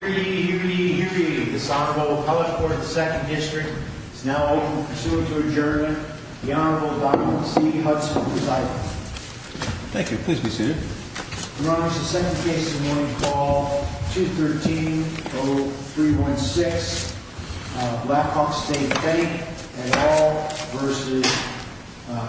Hearing, hearing, hearing, this Honorable College Board of the 2nd District is now open for pursuant to adjournment. The Honorable Donald C. Hudson, presiding. Thank you. Please be seated. Your Honor, this is the second case in the morning called 213-0316, Blackhawk State Bank, et al. v.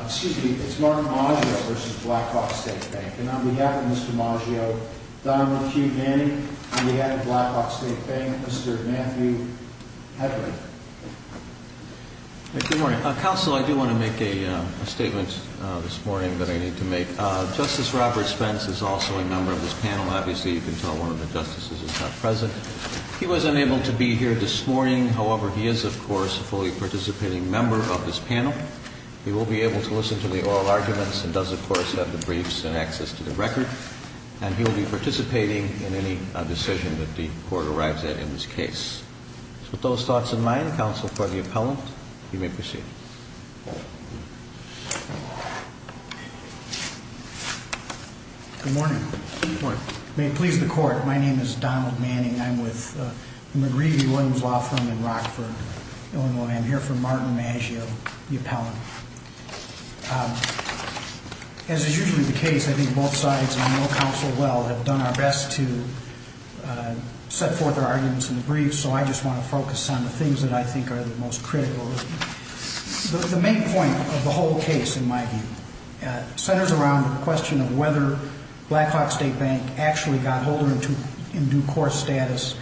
Excuse me, it's Martin Maggio v. Blackhawk State Bank. And on behalf of Mr. Maggio, the Honorable Chief Manning, on behalf of Blackhawk State Bank, Mr. Matthew Hedrick. Good morning. Counsel, I do want to make a statement this morning that I need to make. Justice Robert Spence is also a member of this panel. Obviously, you can tell one of the justices is not present. He was unable to be here this morning. However, he is, of course, a fully participating member of this panel. He will be able to listen to the oral arguments and does, of course, have the briefs and access to the record. And he will be participating in any decision that the court arrives at in this case. With those thoughts in mind, counsel for the appellant, you may proceed. Good morning. Good morning. May it please the court, my name is Donald Manning. I'm with the McGreevy Williams Law Firm in Rockford, Illinois. And I am here for Martin Maggio, the appellant. As is usually the case, I think both sides, and you know counsel well, have done our best to set forth our arguments in the briefs. So I just want to focus on the things that I think are the most critical. The main point of the whole case, in my view, centers around the question of whether Blackhawk State Bank actually got Holder in due course status.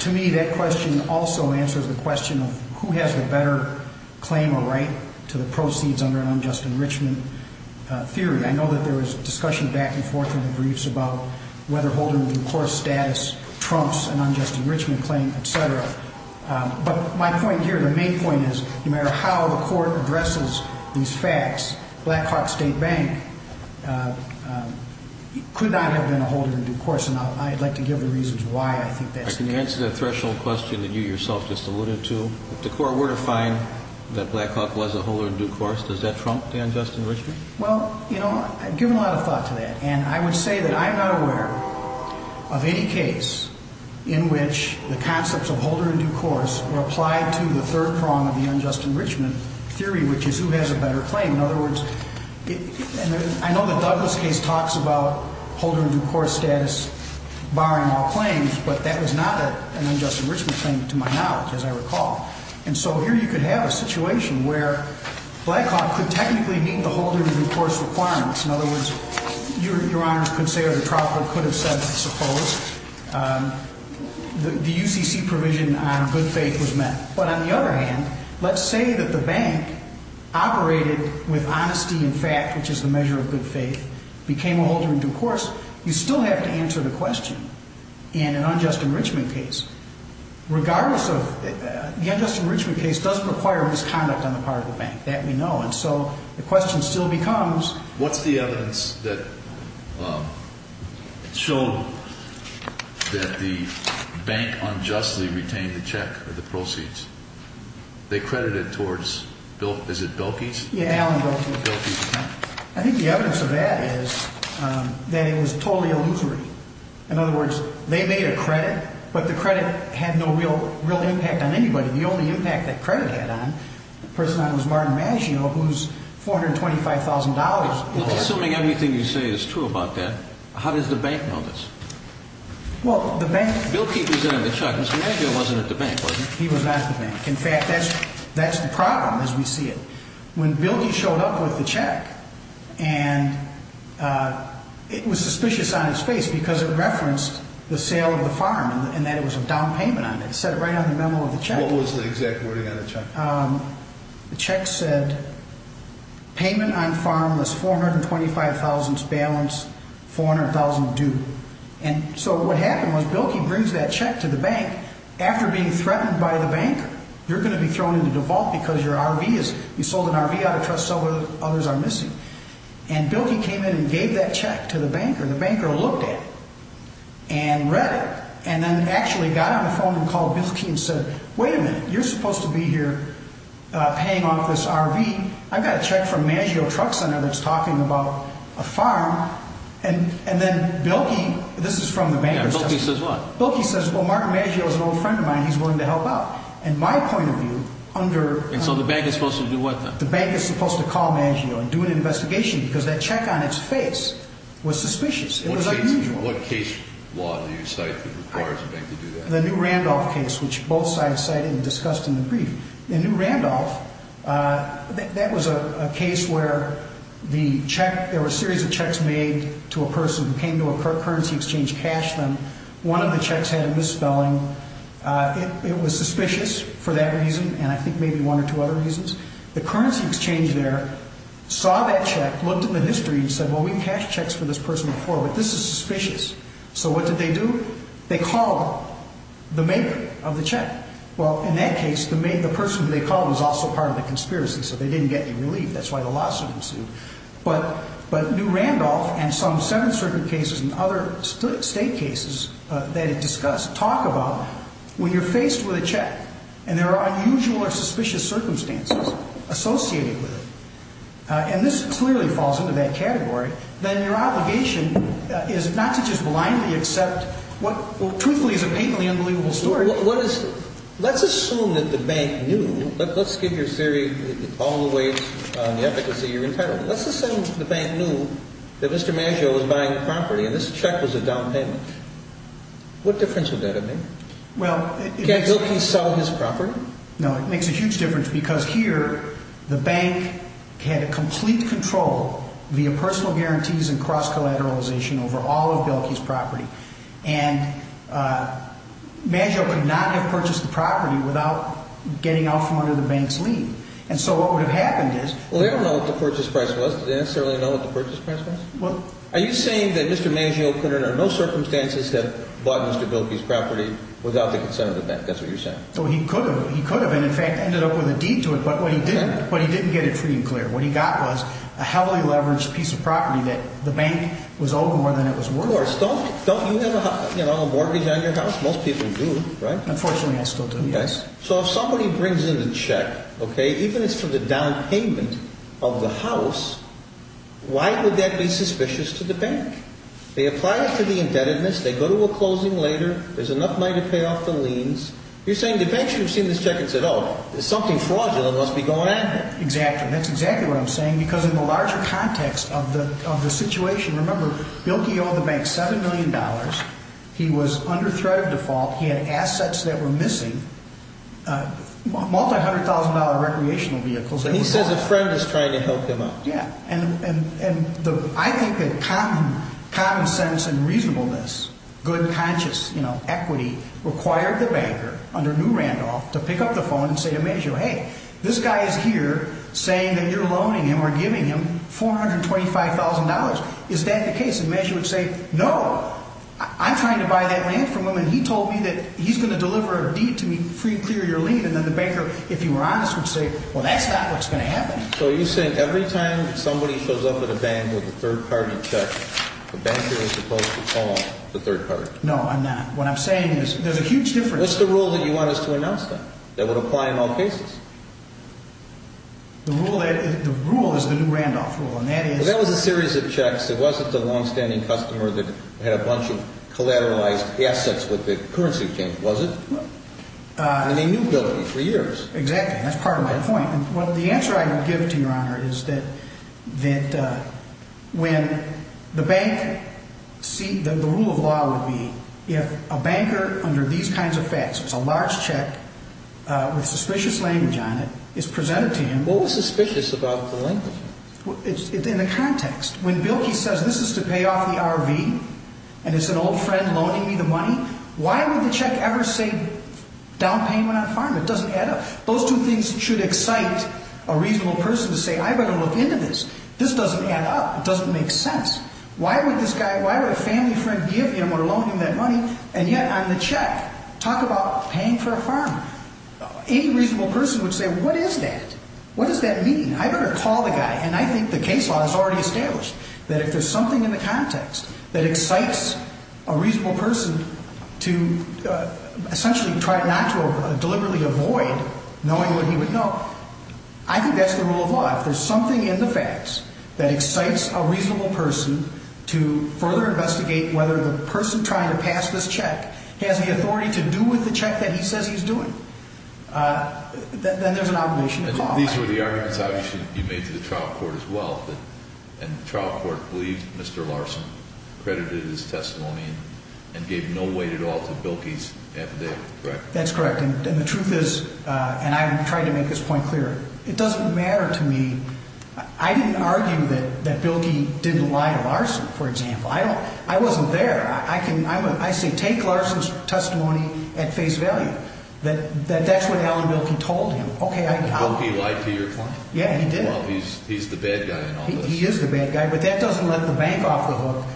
To me, that question also answers the question of who has the better claim or right to the proceeds under an unjust enrichment theory. I know that there was discussion back and forth in the briefs about whether Holder in due course status trumps an unjust enrichment claim, etc. But my point here, the main point is, no matter how the court addresses these facts, Blackhawk State Bank could not have been a Holder in due course. And I'd like to give the reasons why I think that's the case. Can you answer that threshold question that you yourself just alluded to? If the court were to find that Blackhawk was a Holder in due course, does that trump the unjust enrichment? Well, you know, I've given a lot of thought to that. And I would say that I'm not aware of any case in which the concepts of Holder in due course were applied to the third prong of the unjust enrichment theory, which is who has a better claim. In other words, I know that Douglas' case talks about Holder in due course status barring all claims, but that was not an unjust enrichment claim to my knowledge, as I recall. And so here you could have a situation where Blackhawk could technically meet the Holder in due course requirements. In other words, Your Honor could say or the trial court could have said, I suppose, the UCC provision on good faith was met. But on the other hand, let's say that the bank operated with honesty and fact, which is the measure of good faith, became a Holder in due course, you still have to answer the question in an unjust enrichment case. Regardless of, the unjust enrichment case does require misconduct on the part of the bank. That we know. And so the question still becomes. What's the evidence that showed that the bank unjustly retained the check or the proceeds? They credited towards, is it Bilkey's? Yeah, Allen Bilkey's. I think the evidence of that is that it was totally illusory. In other words, they made a credit, but the credit had no real impact on anybody. The only impact that credit had on, the person that it was Martin Maggio, who's $425,000. Assuming everything you say is true about that, how does the bank know this? Well, the bank. Bilkey was in the check, Mr. Maggio wasn't at the bank, was he? He was not at the bank. In fact, that's the problem as we see it. When Bilkey showed up with the check and it was suspicious on its face because it referenced the sale of the farm and that it was a down payment on it. What was the exact wording on the check? The check said payment on farm was $425,000 balance, $400,000 due. And so what happened was Bilkey brings that check to the bank after being threatened by the banker. You're going to be thrown into the vault because you sold an RV out of trust so others are missing. And Bilkey came in and gave that check to the banker. The banker looked at it and read it and then actually got on the phone and called Bilkey and said, wait a minute, you're supposed to be here paying off this RV. I've got a check from Maggio Truck Center that's talking about a farm. And then Bilkey, this is from the bank. Bilkey says what? Bilkey says, well, Martin Maggio is an old friend of mine. He's willing to help out. And my point of view under. And so the bank is supposed to do what then? The bank is supposed to call Maggio and do an investigation because that check on its face was suspicious. It was unusual. What case law do you cite that requires a bank to do that? The new Randolph case, which both sides cited and discussed in the brief. The new Randolph, that was a case where there were a series of checks made to a person who came to a currency exchange to cash them. One of the checks had a misspelling. It was suspicious for that reason and I think maybe one or two other reasons. The currency exchange there saw that check, looked at the history and said, well, we've cashed checks for this person before, but this is suspicious. So what did they do? They called the maker of the check. Well, in that case, the person they called was also part of the conspiracy, so they didn't get any relief. That's why the lawsuit ensued. But new Randolph and some Seventh Circuit cases and other state cases that it discussed talk about when you're faced with a check. And there are unusual or suspicious circumstances associated with it. And this clearly falls into that category. Then your obligation is not to just blindly accept what truthfully is a patently unbelievable story. Let's assume that the bank knew. Let's give your theory all the way to the efficacy you're entitled to. Let's assume the bank knew that Mr. Maggio was buying the property and this check was a down payment. What difference would that have made? Can't Bilkey sell his property? No, it makes a huge difference because here the bank had complete control via personal guarantees and cross-collateralization over all of Bilkey's property. And Maggio could not have purchased the property without getting out from under the bank's lead. And so what would have happened is... Well, they don't know what the purchase price was. Do they necessarily know what the purchase price was? Are you saying that Mr. Maggio could under no circumstances have bought Mr. Bilkey's property without the consent of the bank? That's what you're saying. He could have. He could have. And in fact ended up with a deed to it. But what he didn't get it pretty clear. What he got was a heavily leveraged piece of property that the bank was owed more than it was worth. Of course. Don't you have a mortgage on your house? Most people do, right? Unfortunately, I still do, yes. So if somebody brings in a check, okay, even if it's for the down payment of the house, why would that be suspicious to the bank? They apply it to the indebtedness. They go to a closing later. There's enough money to pay off the liens. You're saying the bank should have seen this check and said, oh, there's something fraudulent that must be going on here. Exactly. That's exactly what I'm saying because in the larger context of the situation, remember, Bilkey owed the bank $7 million. He was under threat of default. He had assets that were missing, multi-hundred thousand dollar recreational vehicles. So he says a friend is trying to help him out. Yeah. And I think that common sense and reasonableness, good conscious, you know, equity required the banker under new Randolph to pick up the phone and say to Mejio, hey, this guy is here saying that you're loaning him or giving him $425,000. Is that the case? And Mejio would say, no, I'm trying to buy that land from him and he told me that he's going to deliver a deed to me for you to clear your lien. And then the banker, if you were honest, would say, well, that's not what's going to happen. So you're saying every time somebody shows up at a bank with a third-party check, the banker is supposed to call the third party. No, I'm not. What I'm saying is there's a huge difference. What's the rule that you want us to announce then that would apply in all cases? The rule is the new Randolph rule. That was a series of checks. It wasn't the longstanding customer that had a bunch of collateralized assets with the currency change, was it? And they knew Bill for years. Exactly. That's part of my point. Well, the answer I would give to Your Honor is that when the bank, the rule of law would be if a banker under these kinds of facts, if it's a large check with suspicious language on it, is presented to him. What was suspicious about the language? It's in the context. When Bill Key says this is to pay off the RV and it's an old friend loaning me the money, why would the check ever say down payment on a farm? It doesn't add up. Those two things should excite a reasonable person to say, I better look into this. This doesn't add up. It doesn't make sense. Why would this guy, why would a family friend give him or loan him that money and yet on the check talk about paying for a farm? Any reasonable person would say, what is that? What does that mean? I better call the guy. And I think the case law is already established that if there's something in the context that excites a reasonable person to essentially try not to deliberately avoid knowing what he would know, I think that's the rule of law. If there's something in the facts that excites a reasonable person to further investigate whether the person trying to pass this check has the authority to do with the check that he says he's doing, then there's an obligation to call. These were the arguments you made to the trial court as well. And the trial court believed Mr. Larson credited his testimony and gave no weight at all to Bilkey's affidavit, correct? That's correct. And the truth is, and I'm trying to make this point clear, it doesn't matter to me. I didn't argue that Bilkey didn't lie to Larson, for example. I wasn't there. I say take Larson's testimony at face value, that that's what Alan Bilkey told him. Bilkey lied to your client? Yeah, he did. Well, he's the bad guy in all this. He is the bad guy, but that doesn't let the bank off the hook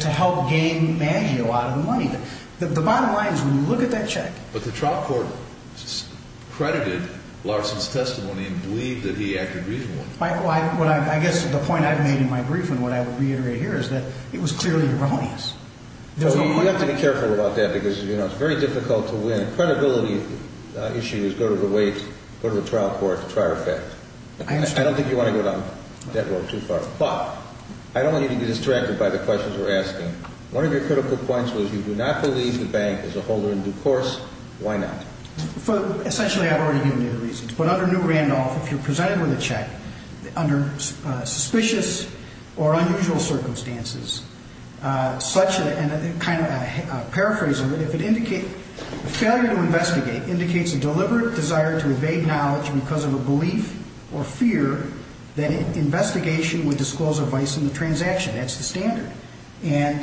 to help gain Maggio out of the money. The bottom line is when you look at that check. But the trial court credited Larson's testimony and believed that he acted reasonably. I guess the point I've made in my brief and what I would reiterate here is that it was clearly erroneous. You have to be careful about that because it's very difficult to win. Credibility issues go to the weight, go to the trial court to try or affect. I don't think you want to go down that road too far. But I don't want you to be distracted by the questions we're asking. One of your critical points was you do not believe the bank is a holder in due course. Why not? Essentially, I've already given you the reasons. But under New Randolph, if you're presented with a check under suspicious or unusual circumstances, such a kind of a paraphrase of it, if it indicates, failure to investigate indicates a deliberate desire to evade knowledge because of a belief or fear that investigation would disclose a vice in the transaction. That's the standard. And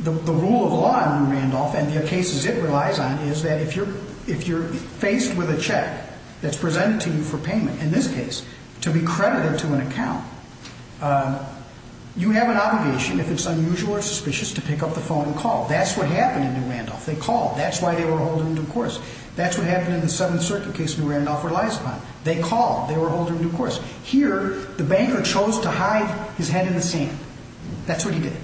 the rule of law under Randolph and the cases it relies on is that if you're faced with a check that's presented to you for payment, in this case, to be credited to an account, you have an obligation, if it's unusual or suspicious, to pick up the phone and call. That's what happened in New Randolph. They called. That's why they were a holder in due course. That's what happened in the Seventh Circuit case in New Randolph where it relies upon. They called. They were a holder in due course. Here, the banker chose to hide his head in the sand. That's what he did.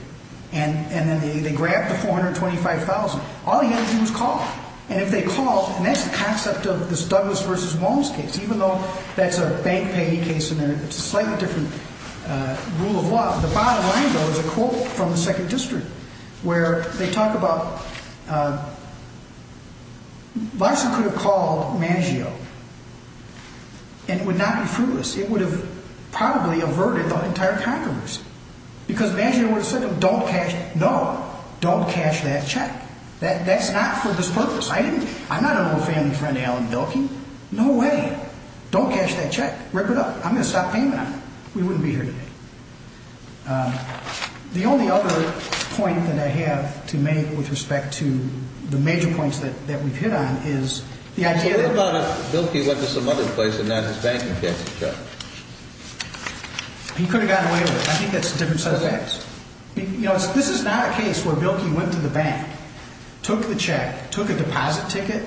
And then they grabbed the $425,000. All he had to do was call. And if they called, and that's the concept of this Douglas v. Walms case, even though that's a bank payee case and it's a slightly different rule of law, the bottom line, though, is a quote from the Second District where they talk about, Larson could have called Mangio and it would not be fruitless. It would have probably averted the entire controversy. Because Mangio would have said, don't cash, no, don't cash that check. That's not for this purpose. I'm not an old family friend of Alan Bilkey. No way. Don't cash that check. Rip it up. I'm going to stop paying that. We wouldn't be here today. The only other point that I have to make with respect to the major points that we've hit on is the idea that What about if Bilkey went to some other place and not his bank and cashed the check? He could have gotten away with it. I think that's a different set of facts. You know, this is not a case where Bilkey went to the bank, took the check, took a deposit ticket,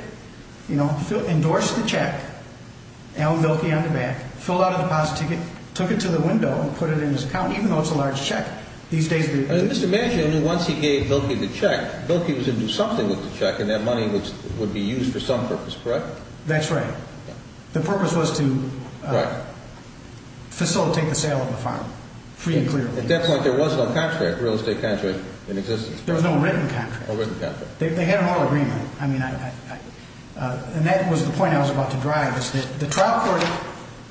you know, endorsed the check, Alan Bilkey on the back, filled out a deposit ticket, took it to the window and put it in his account, even though it's a large check. And Mr. Mangio knew once he gave Bilkey the check, Bilkey was going to do something with the check and that money would be used for some purpose, correct? That's right. The purpose was to facilitate the sale of the farm. At that point there was no contract, real estate contract, in existence. There was no written contract. They had an oil agreement. And that was the point I was about to drive, is that the trial court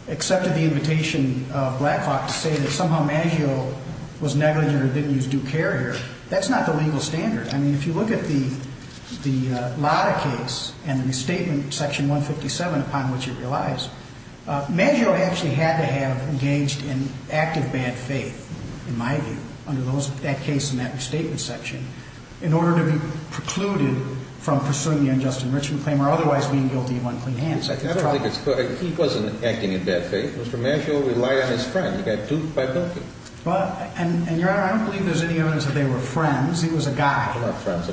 accepted the invitation of Black Hawk to say that somehow Mangio was negligent or didn't use due care here. That's not the legal standard. I mean, if you look at the Lotta case and the restatement, Section 157, upon which it relies, Mangio actually had to have engaged in active bad faith, in my view, under that case and that restatement section, in order to be precluded from pursuing the unjust enrichment claim or otherwise being guilty of unclean hands. I don't think it's correct. He wasn't acting in bad faith. Mr. Mangio relied on his friend. He got duped by Bilkey. And, Your Honor, I don't believe there's any evidence that they were friends. He was a guy. They were not friends.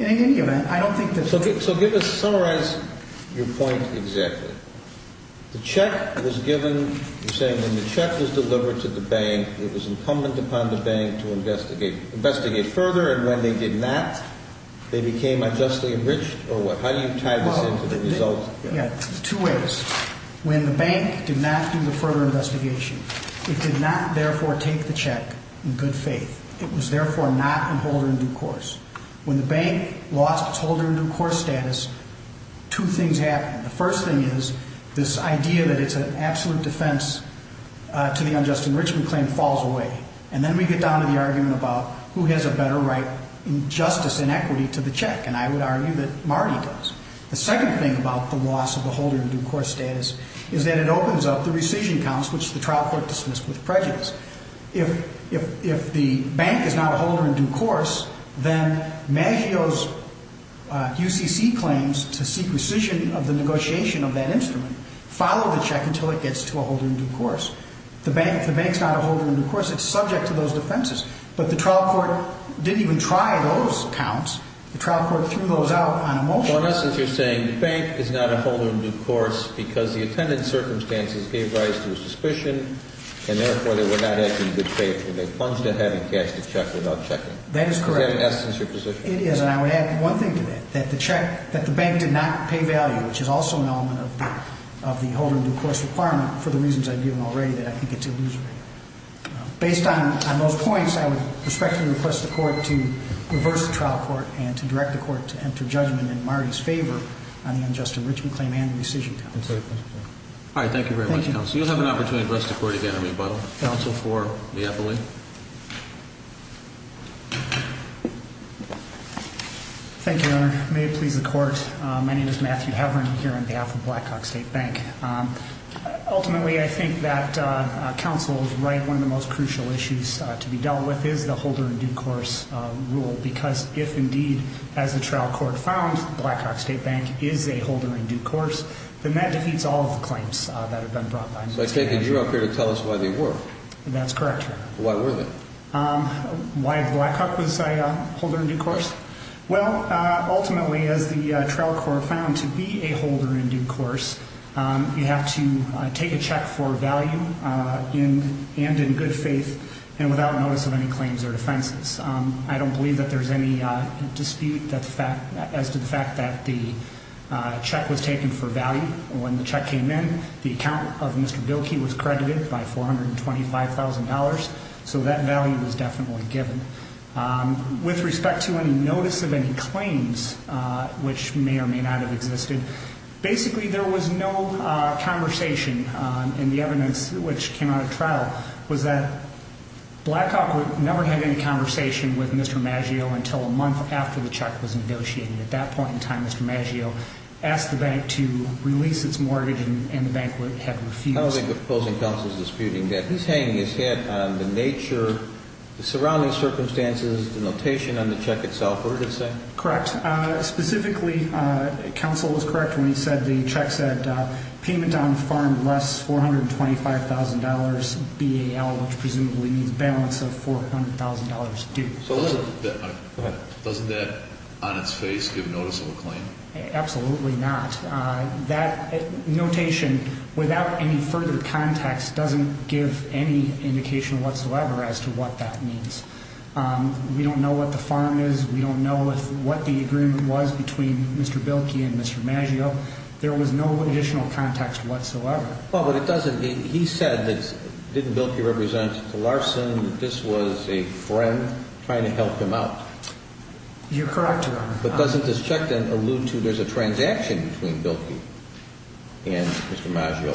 In any event, I don't think that... So give us, summarize your point exactly. The check was given, you're saying when the check was delivered to the bank, it was incumbent upon the bank to investigate further. And when they did not, they became unjustly enriched or what? How do you tie this into the result? Two ways. When the bank did not do the further investigation, it did not, therefore, take the check in good faith. It was, therefore, not in holder in due course. When the bank lost its holder in due course status, two things happened. The first thing is this idea that it's an absolute defense to the unjust enrichment claim falls away. And then we get down to the argument about who has a better right in justice and equity to the check. And I would argue that Marty does. The second thing about the loss of the holder in due course status is that it opens up the rescission counts, which the trial court dismissed with prejudice. If the bank is not a holder in due course, then Maggio's UCC claims to seek rescission of the negotiation of that instrument, follow the check until it gets to a holder in due course. If the bank is not a holder in due course, it's subject to those defenses. But the trial court didn't even try those counts. The trial court threw those out on a motion. So in essence, you're saying the bank is not a holder in due course because the attendant circumstances gave rise to a suspicion and therefore they were not acting in good faith. They plunged it having cash to check without checking. That is correct. Is that in essence your position? It is, and I would add one thing to that, that the bank did not pay value, which is also an element of the holder in due course requirement for the reasons I've given already that I think it's illusory. Based on those points, I would respectfully request the court to reverse the trial court and to direct the court to enter judgment in Marty's favor on the unjust enrichment claim and the rescission counts. All right. Thank you very much, counsel. You'll have an opportunity to address the court again in rebuttal. Counsel for Miepoli. Thank you, Your Honor. May it please the court. My name is Matthew Heverin here on behalf of Blackhawk State Bank. Ultimately, I think that counsel is right. One of the most crucial issues to be dealt with is the holder in due course rule because if indeed, as the trial court found, Blackhawk State Bank is a holder in due course, then that defeats all of the claims that have been brought by Miepoli. So I take it you're up here to tell us why they were. That's correct, Your Honor. Why were they? Why Blackhawk was a holder in due course? Well, ultimately, as the trial court found to be a holder in due course, you have to take a check for value and in good faith and without notice of any claims or offenses. I don't believe that there's any dispute as to the fact that the check was taken for value. When the check came in, the account of Mr. Bilkey was credited by $425,000. So that value was definitely given. With respect to any notice of any claims, which may or may not have existed, basically there was no conversation in the evidence which came out of trial was that Blackhawk would never have any conversation with Mr. Maggio until a month after the check was negotiated. At that point in time, Mr. Maggio asked the bank to release its mortgage and the bank had refused. I don't think the opposing counsel is disputing that. He's hanging his head on the nature, the surrounding circumstances, the notation on the check itself. What does it say? Correct. Specifically, counsel was correct when he said the check said payment on farm less $425,000 BAL, which presumably means balance of $400,000 due. Doesn't that on its face give notice of a claim? Absolutely not. That notation without any further context doesn't give any indication whatsoever as to what that means. We don't know what the farm is. We don't know what the agreement was between Mr. Bilkey and Mr. Maggio. There was no additional context whatsoever. He said that didn't Bilkey represent Larson? This was a friend trying to help him out. You're correct, Your Honor. But doesn't this check then allude to there's a transaction between Bilkey and Mr. Maggio?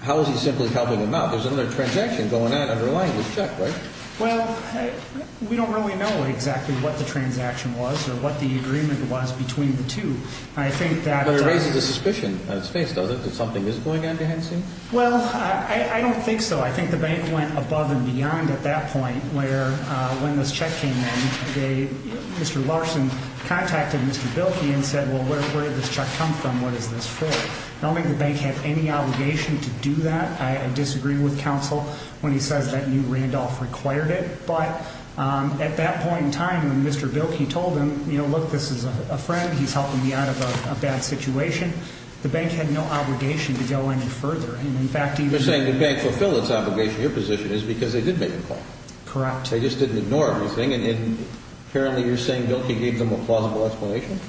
How is he simply helping him out? There's another transaction going on underlying this check, right? Well, we don't really know exactly what the transaction was or what the agreement was between the two. I think that But it raises a suspicion on its face, doesn't it, that something is going on behind the scenes? Well, I don't think so. I think the bank went above and beyond at that point where when this check came in, Mr. Larson contacted Mr. Bilkey and said, well, where did this check come from? What is this for? I don't think the bank had any obligation to do that. I disagree with counsel when he says that New Randolph required it. But at that point in time when Mr. Bilkey told him, you know, look, this is a friend. He's helping me out of a bad situation. The bank had no obligation to go any further. You're saying the bank fulfilled its obligation. Your position is because they did make the call. Correct. They just didn't ignore everything. And apparently you're saying Bilkey gave them a plausible explanation?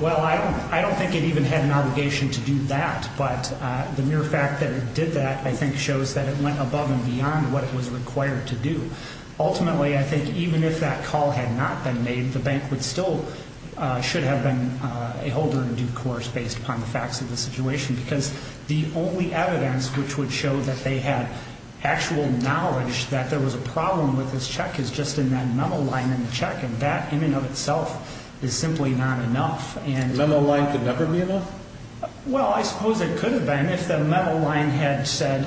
Well, I don't think it even had an obligation to do that. But the mere fact that it did that, I think, shows that it went above and beyond what it was required to do. Ultimately, I think even if that call had not been made, the bank would still, should have been a holder in due course based upon the facts of the situation. Because the only evidence which would show that they had actual knowledge that there was a problem with this check is just in that memo line in the check. And that in and of itself is simply not enough. A memo line could never be enough? Well, I suppose it could have been if the memo line had said,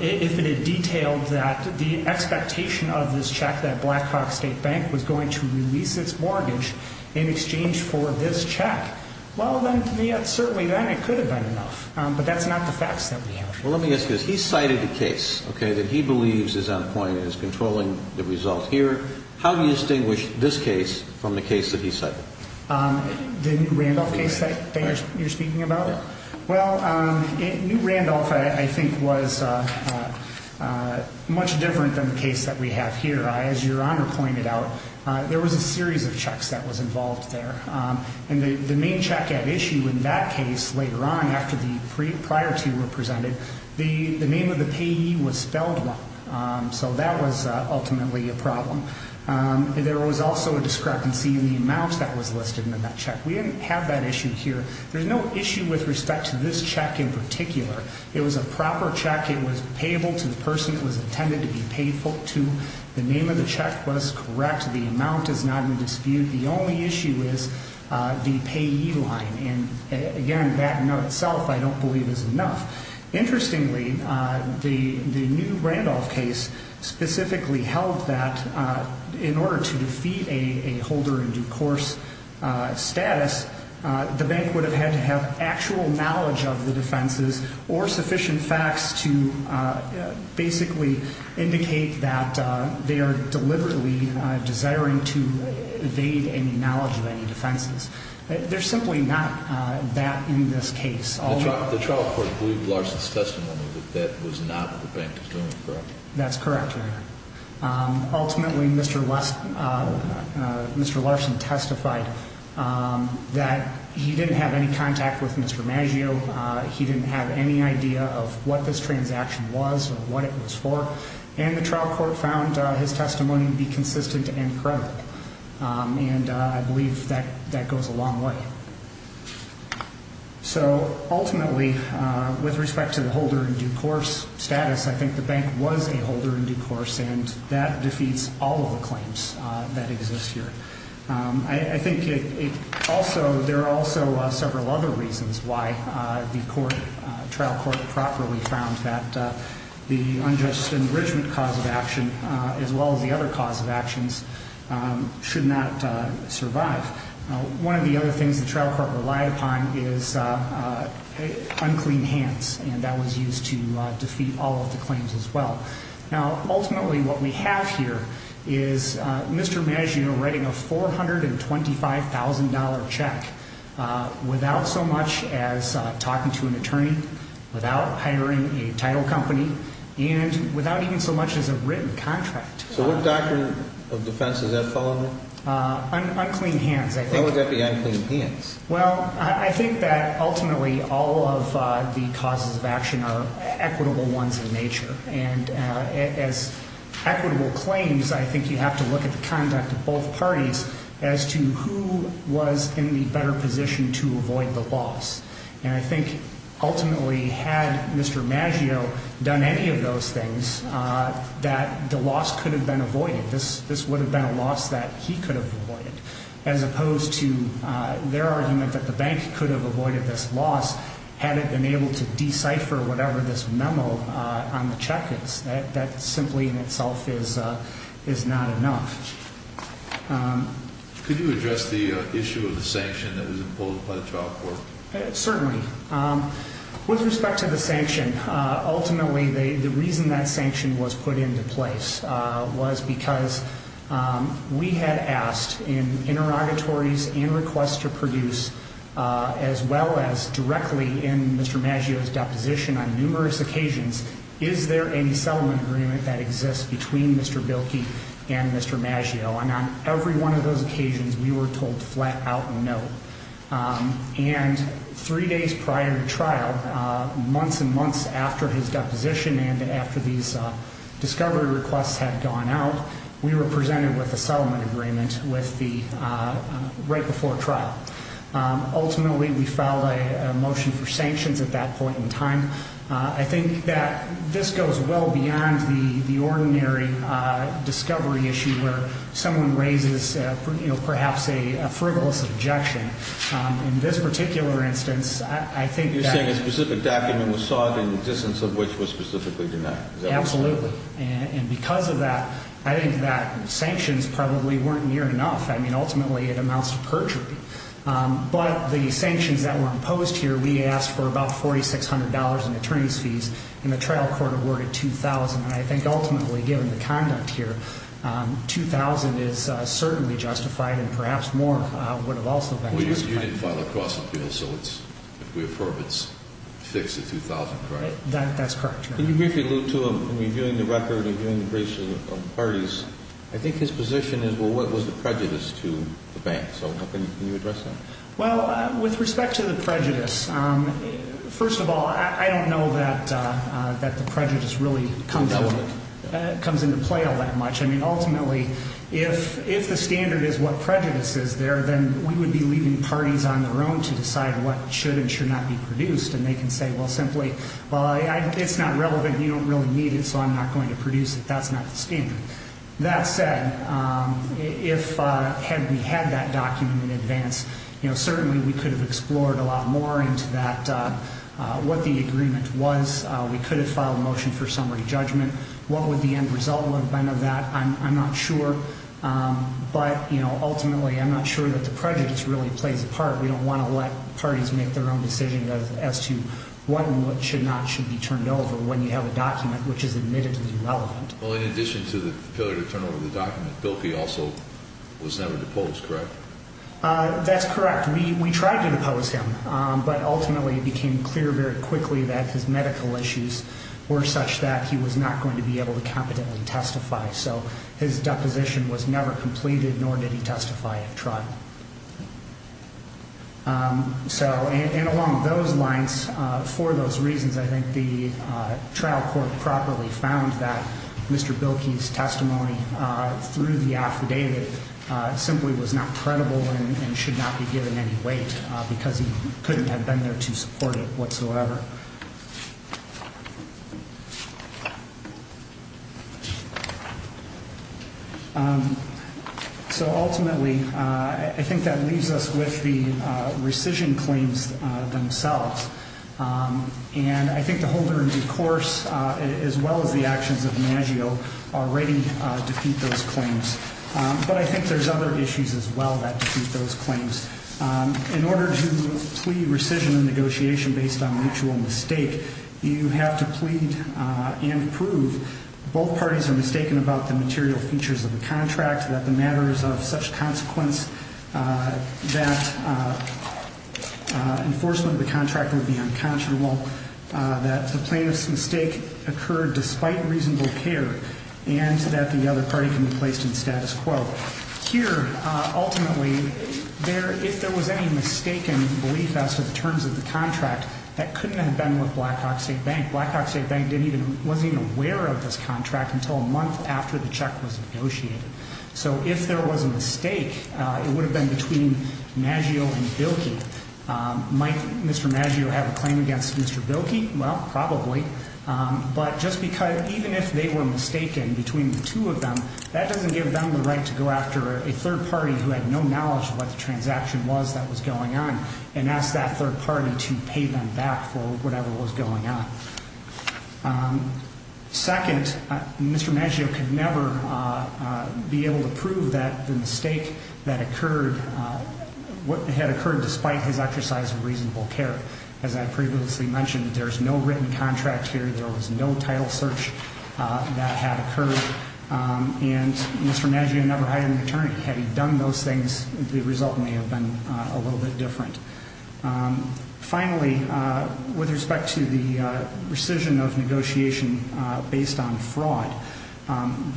if it had detailed that the expectation of this check that Blackhawk State Bank was going to release its mortgage in exchange for this check. Well, then, to me, certainly then it could have been enough. But that's not the facts that we have. Well, let me ask you this. He cited a case, okay, that he believes is on point and is controlling the results here. How do you distinguish this case from the case that he cited? The New Randolph case that you're speaking about? Well, New Randolph, I think, was much different than the case that we have here. As Your Honor pointed out, there was a series of checks that was involved there. And the main check at issue in that case, later on, after the prior two were presented, the name of the payee was spelled wrong. So that was ultimately a problem. There was also a discrepancy in the amount that was listed in that check. We didn't have that issue here. There's no issue with respect to this check in particular. It was a proper check. It was payable to the person it was intended to be payable to. The name of the check was correct. The amount has not been disputed. The only issue is the payee line. And, again, that in itself I don't believe is enough. Interestingly, the New Randolph case specifically held that in order to defeat a holder in due course status, the bank would have had to have actual knowledge of the defenses or sufficient facts to basically indicate that they are deliberately desiring to evade any knowledge of any defenses. There's simply not that in this case. The trial court believed Larson's testimony that that was not what the bank was doing, correct? That's correct, Your Honor. Ultimately, Mr. Larson testified that he didn't have any contact with Mr. Maggio. He didn't have any idea of what this transaction was or what it was for. And the trial court found his testimony to be consistent and credible. And I believe that goes a long way. So, ultimately, with respect to the holder in due course status, I think the bank was a holder in due course, and that defeats all of the claims that exist here. I think there are also several other reasons why the trial court properly found that the unjust enrichment cause of action, as well as the other cause of actions, should not survive. One of the other things the trial court relied upon is unclean hands, and that was used to defeat all of the claims as well. Now, ultimately, what we have here is Mr. Maggio writing a $425,000 check without so much as talking to an attorney, without hiring a title company, and without even so much as a written contract. So what doctrine of defense does that fall under? Unclean hands, I think. Why would that be unclean hands? Well, I think that, ultimately, all of the causes of action are equitable ones in nature. And as equitable claims, I think you have to look at the conduct of both parties as to who was in the better position to avoid the loss. And I think, ultimately, had Mr. Maggio done any of those things, that the loss could have been avoided. This would have been a loss that he could have avoided, as opposed to their argument that the bank could have avoided this loss had it been able to decipher whatever this memo on the check is. That simply, in itself, is not enough. Could you address the issue of the sanction that was imposed by the trial court? Certainly. With respect to the sanction, ultimately, the reason that sanction was put into place was because we had asked in interrogatories and requests to produce, as well as directly in Mr. Maggio's deposition on numerous occasions, is there any settlement agreement that exists between Mr. Bilkey and Mr. Maggio. And on every one of those occasions, we were told flat out no. And three days prior to trial, months and months after his deposition and after these discovery requests had gone out, we were presented with a settlement agreement right before trial. Ultimately, we filed a motion for sanctions at that point in time. I think that this goes well beyond the ordinary discovery issue where someone raises perhaps a frivolous objection. In this particular instance, I think that... Absolutely. And because of that, I think that sanctions probably weren't near enough. I mean, ultimately, it amounts to perjury. But the sanctions that were imposed here, we asked for about $4,600 in attorney's fees and the trial court awarded $2,000. And I think ultimately, given the conduct here, $2,000 is certainly justified and perhaps more would have also been justified. Well, you didn't file a cross-appeal, so if we approve, it's fixed at $2,000, right? That's correct, Your Honor. Can you briefly allude to him reviewing the record, reviewing the briefs of the parties? I think his position is, well, what was the prejudice to the bank? So can you address that? Well, with respect to the prejudice, first of all, I don't know that the prejudice really comes into play all that much. I mean, ultimately, if the standard is what prejudice is there, then we would be leaving parties on their own to decide what should and should not be produced. And they can say, well, simply, it's not relevant. You don't really need it, so I'm not going to produce it. That's not the standard. That said, had we had that document in advance, certainly we could have explored a lot more into what the agreement was. We could have filed a motion for summary judgment. What would the end result have been of that? I'm not sure. But ultimately, I'm not sure that the prejudice really plays a part. We don't want to let parties make their own decision as to what and what should not should be turned over when you have a document which is admittedly relevant. Well, in addition to the failure to turn over the document, Bilkey also was never deposed, correct? That's correct. We tried to depose him, but ultimately it became clear very quickly that his medical issues were such that he was not going to be able to competently testify. So his deposition was never completed, nor did he testify at trial. And along those lines, for those reasons, I think the trial court properly found that Mr. Bilkey's testimony through the affidavit simply was not credible and should not be given any weight because he couldn't have been there to support it whatsoever. So ultimately, I think that leaves us with the rescission claims themselves. And I think the holder and the course, as well as the actions of Maggio, already defeat those claims. But I think there's other issues as well that defeat those claims. In order to plea rescission and negotiation based on mutual agreement, you have to plead and prove both parties are mistaken about the material features of the contract, that the matters of such consequence that enforcement of the contract would be unconscionable, that the plaintiff's mistake occurred despite reasonable care, and that the other party can be placed in status quo. Here, ultimately, if there was any mistaken belief as to the terms of the contract, that couldn't have been with Blackhawk State Bank. Blackhawk State Bank wasn't even aware of this contract until a month after the check was negotiated. So if there was a mistake, it would have been between Maggio and Bilkey. Might Mr. Maggio have a claim against Mr. Bilkey? Well, probably. But just because even if they were mistaken between the two of them, that doesn't give them the right to go after a third party who had no knowledge of what the transaction was that was going on and ask that third party to pay them back for whatever was going on. Second, Mr. Maggio could never be able to prove that the mistake that occurred, what had occurred despite his exercise of reasonable care. As I previously mentioned, there's no written contract here. There was no title search that had occurred. And Mr. Maggio never hired an attorney. Had he done those things, the result may have been a little bit different. Finally, with respect to the rescission of negotiation based on fraud,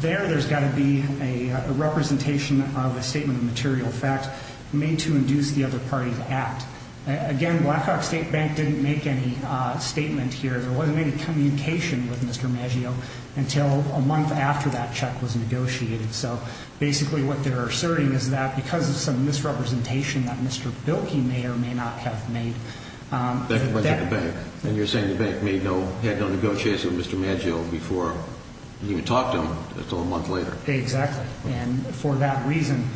there there's got to be a representation of a statement of material fact made to induce the other party to act. Again, Blackhawk State Bank didn't make any statement here. There wasn't any communication with Mr. Maggio until a month after that check was negotiated. So basically what they're asserting is that because of some misrepresentation that Mr. Bilkey may or may not have made. That went to the bank. And you're saying the bank had no negotiations with Mr. Maggio before he even talked to him until a month later. Exactly. And for that reason,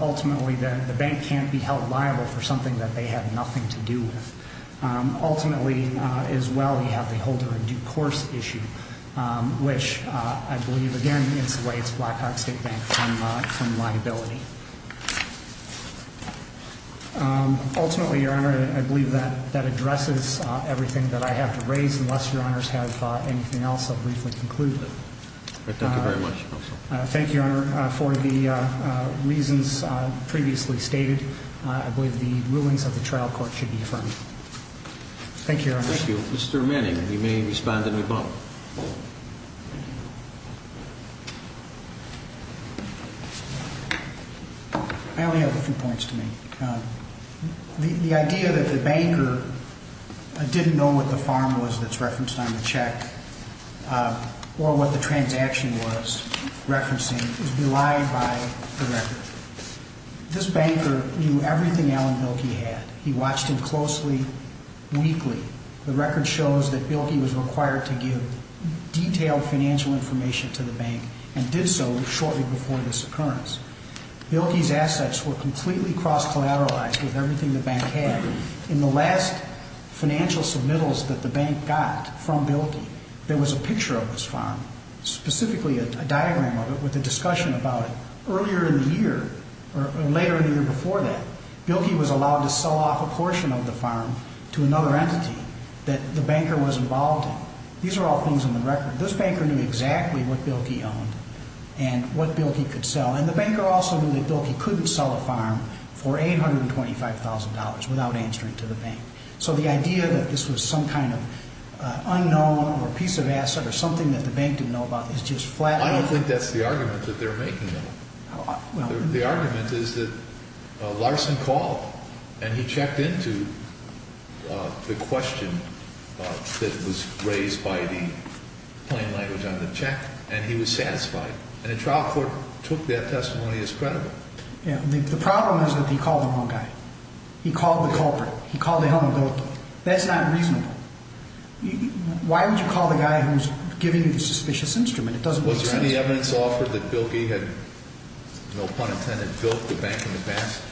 ultimately the bank can't be held liable for something that they had nothing to do with. Ultimately, as well, you have the holder of due course issue, which I believe, again, is the way it's Blackhawk State Bank from liability. Ultimately, Your Honor, I believe that addresses everything that I have to raise. Unless Your Honors have anything else, I'll briefly conclude. Thank you very much, Counsel. Thank you, Your Honor. For the reasons previously stated, I believe the rulings of the trial court should be affirmed. Thank you, Your Honor. Thank you. Mr. Manning, you may respond to me both. I only have a few points to make. The idea that the banker didn't know what the farm was that's referenced on the check or what the transaction was referencing is belied by the record. This banker knew everything Alan Bilkey had. He watched him closely, weekly. The record shows that Bilkey was required to give detailed financial information to the bank and did so shortly before this occurrence. Bilkey's assets were completely cross-collateralized with everything the bank had. In the last financial submittals that the bank got from Bilkey, there was a picture of this farm, specifically a diagram of it with a discussion about it. Later in the year before that, Bilkey was allowed to sell off a portion of the farm to another entity that the banker was involved in. These are all things in the record. This banker knew exactly what Bilkey owned and what Bilkey could sell. And the banker also knew that Bilkey couldn't sell a farm for $825,000 without answering to the bank. So the idea that this was some kind of unknown or a piece of asset or something that the bank didn't know about is just flat out. I don't think that's the argument that they're making though. The argument is that Larson called and he checked into the question that was raised by the plain language on the check and he was satisfied. And the trial court took that testimony as credible. The problem is that he called the wrong guy. He called the culprit. He called Alan Bilkey. That's not reasonable. Why would you call the guy who's giving you the suspicious instrument? It doesn't make sense. Was there any evidence offered that Bilkey had, no pun intended, built the bank in the past?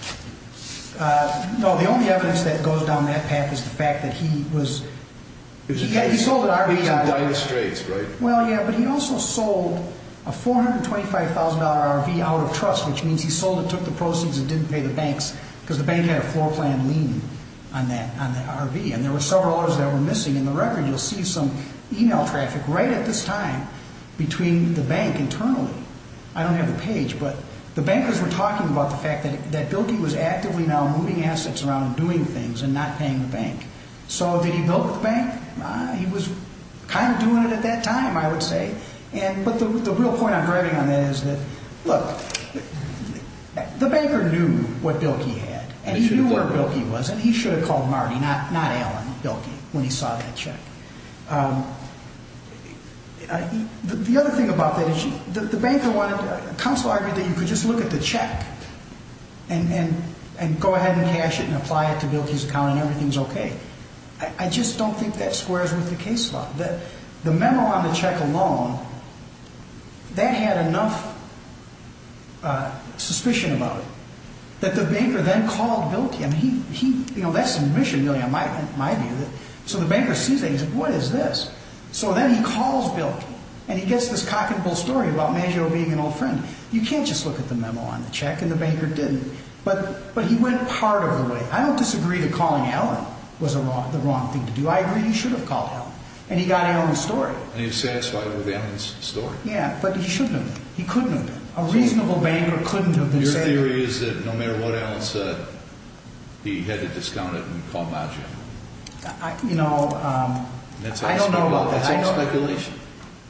No. The only evidence that goes down that path is the fact that he sold an RV out of trust. Well, yeah, but he also sold a $425,000 RV out of trust, which means he sold it, took the proceeds, and didn't pay the banks because the bank had a floor plan lien on that RV. And there were several others that were missing in the record. You'll see some e-mail traffic right at this time between the bank internally. I don't have the page, but the bankers were talking about the fact that Bilkey was actively now moving assets around and doing things and not paying the bank. So did he build the bank? He was kind of doing it at that time, I would say. But the real point I'm driving on that is that, look, the banker knew what Bilkey had and he knew where Bilkey was and he should have called Marty, not Alan Bilkey, when he saw that check. The other thing about that is the banker wanted to counsel argued that you could just look at the check and go ahead and cash it and apply it to Bilkey's account and everything's okay. I just don't think that squares with the case law. The memo on the check alone, that had enough suspicion about it that the banker then called Bilkey. That's submission, really, in my view. So the banker sees that and he says, what is this? So then he calls Bilkey and he gets this cock and bull story about Maggio being an old friend. You can't just look at the memo on the check and the banker didn't. But he went part of the way. I don't disagree that calling Alan was the wrong thing to do. I agree he should have called Alan. And he got Alan's story. And he was satisfied with Alan's story. Yeah, but he shouldn't have been. He couldn't have been. A reasonable banker couldn't have been saying that. So your theory is that no matter what Alan said, he had to discount it and call Maggio? You know, I don't know about that. That's all speculation.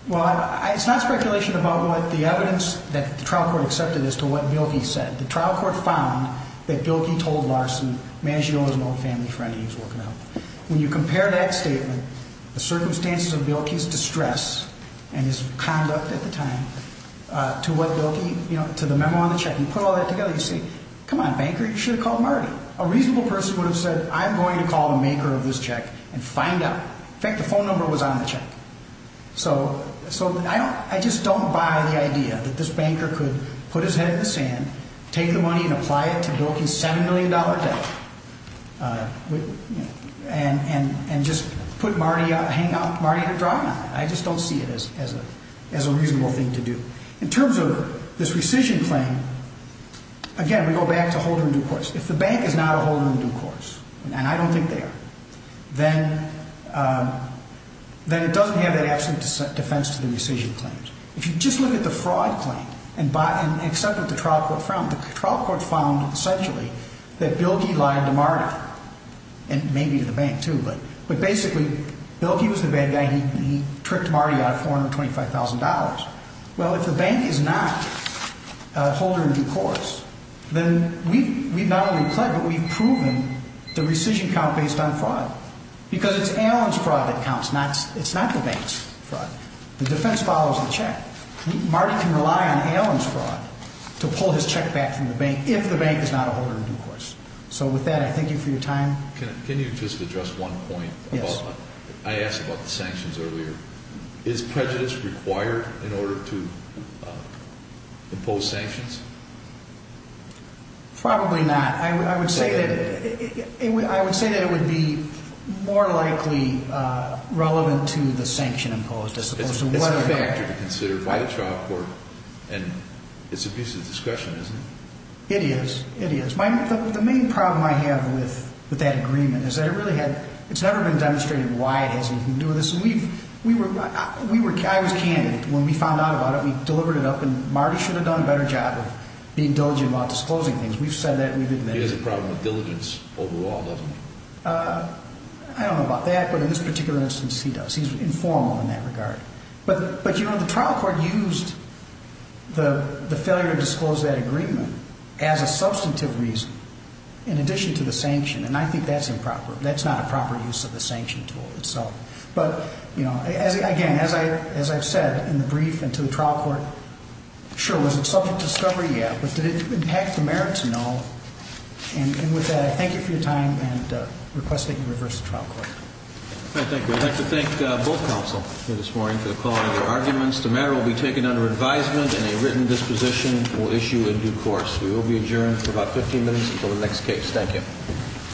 Well, it's not speculation about what the evidence that the trial court accepted as to what Bilkey said. The trial court found that Bilkey told Larson Maggio is an old family friend and he was working out. When you compare that statement, the circumstances of Bilkey's distress and his conduct at the time, to what Bilkey, you know, to the memo on the check. You put all that together, you say, come on, banker, you should have called Marty. A reasonable person would have said, I'm going to call the maker of this check and find out. In fact, the phone number was on the check. So I just don't buy the idea that this banker could put his head in the sand, take the money and apply it to Bilkey's $7 million debt, and just put Marty, hang Marty to dry. I just don't see it as a reasonable thing to do. In terms of this rescission claim, again, we go back to holder in due course. If the bank is not a holder in due course, and I don't think they are, then it doesn't have that absolute defense to the rescission claims. If you just look at the fraud claim and accept what the trial court found, the trial court found essentially that Bilkey lied to Marty, and maybe to the bank too, but basically Bilkey was the bad guy. He tricked Marty out of $425,000. Well, if the bank is not a holder in due course, then we've not only pled, but we've proven the rescission count based on fraud, because it's Allen's fraud that counts, it's not the bank's fraud. The defense follows the check. Marty can rely on Allen's fraud to pull his check back from the bank if the bank is not a holder in due course. So with that, I thank you for your time. Can you just address one point? Yes. I asked about the sanctions earlier. Is prejudice required in order to impose sanctions? Probably not. I would say that it would be more likely relevant to the sanction imposed. It's a factor to consider by the trial court, and it's a piece of discussion, isn't it? It is. The main problem I have with that agreement is that it's never been demonstrated why it has anything to do with this. I was a candidate. When we found out about it, we delivered it up, and Marty should have done a better job of being diligent about disclosing things. We've said that, and we've admitted it. He has a problem with diligence overall, doesn't he? I don't know about that, but in this particular instance, he does. He's informal in that regard. But the trial court used the failure to disclose that agreement as a substantive reason in addition to the sanction, and I think that's improper. Again, as I've said in the brief and to the trial court, sure, was it subject to discovery? Yeah. But did it impact the merit to know? And with that, I thank you for your time and request that you reverse the trial court. Thank you. I'd like to thank both counsel here this morning for the quality of their arguments. The matter will be taken under advisement, and a written disposition will issue in due course. We will be adjourned for about 15 minutes until the next case. Thank you.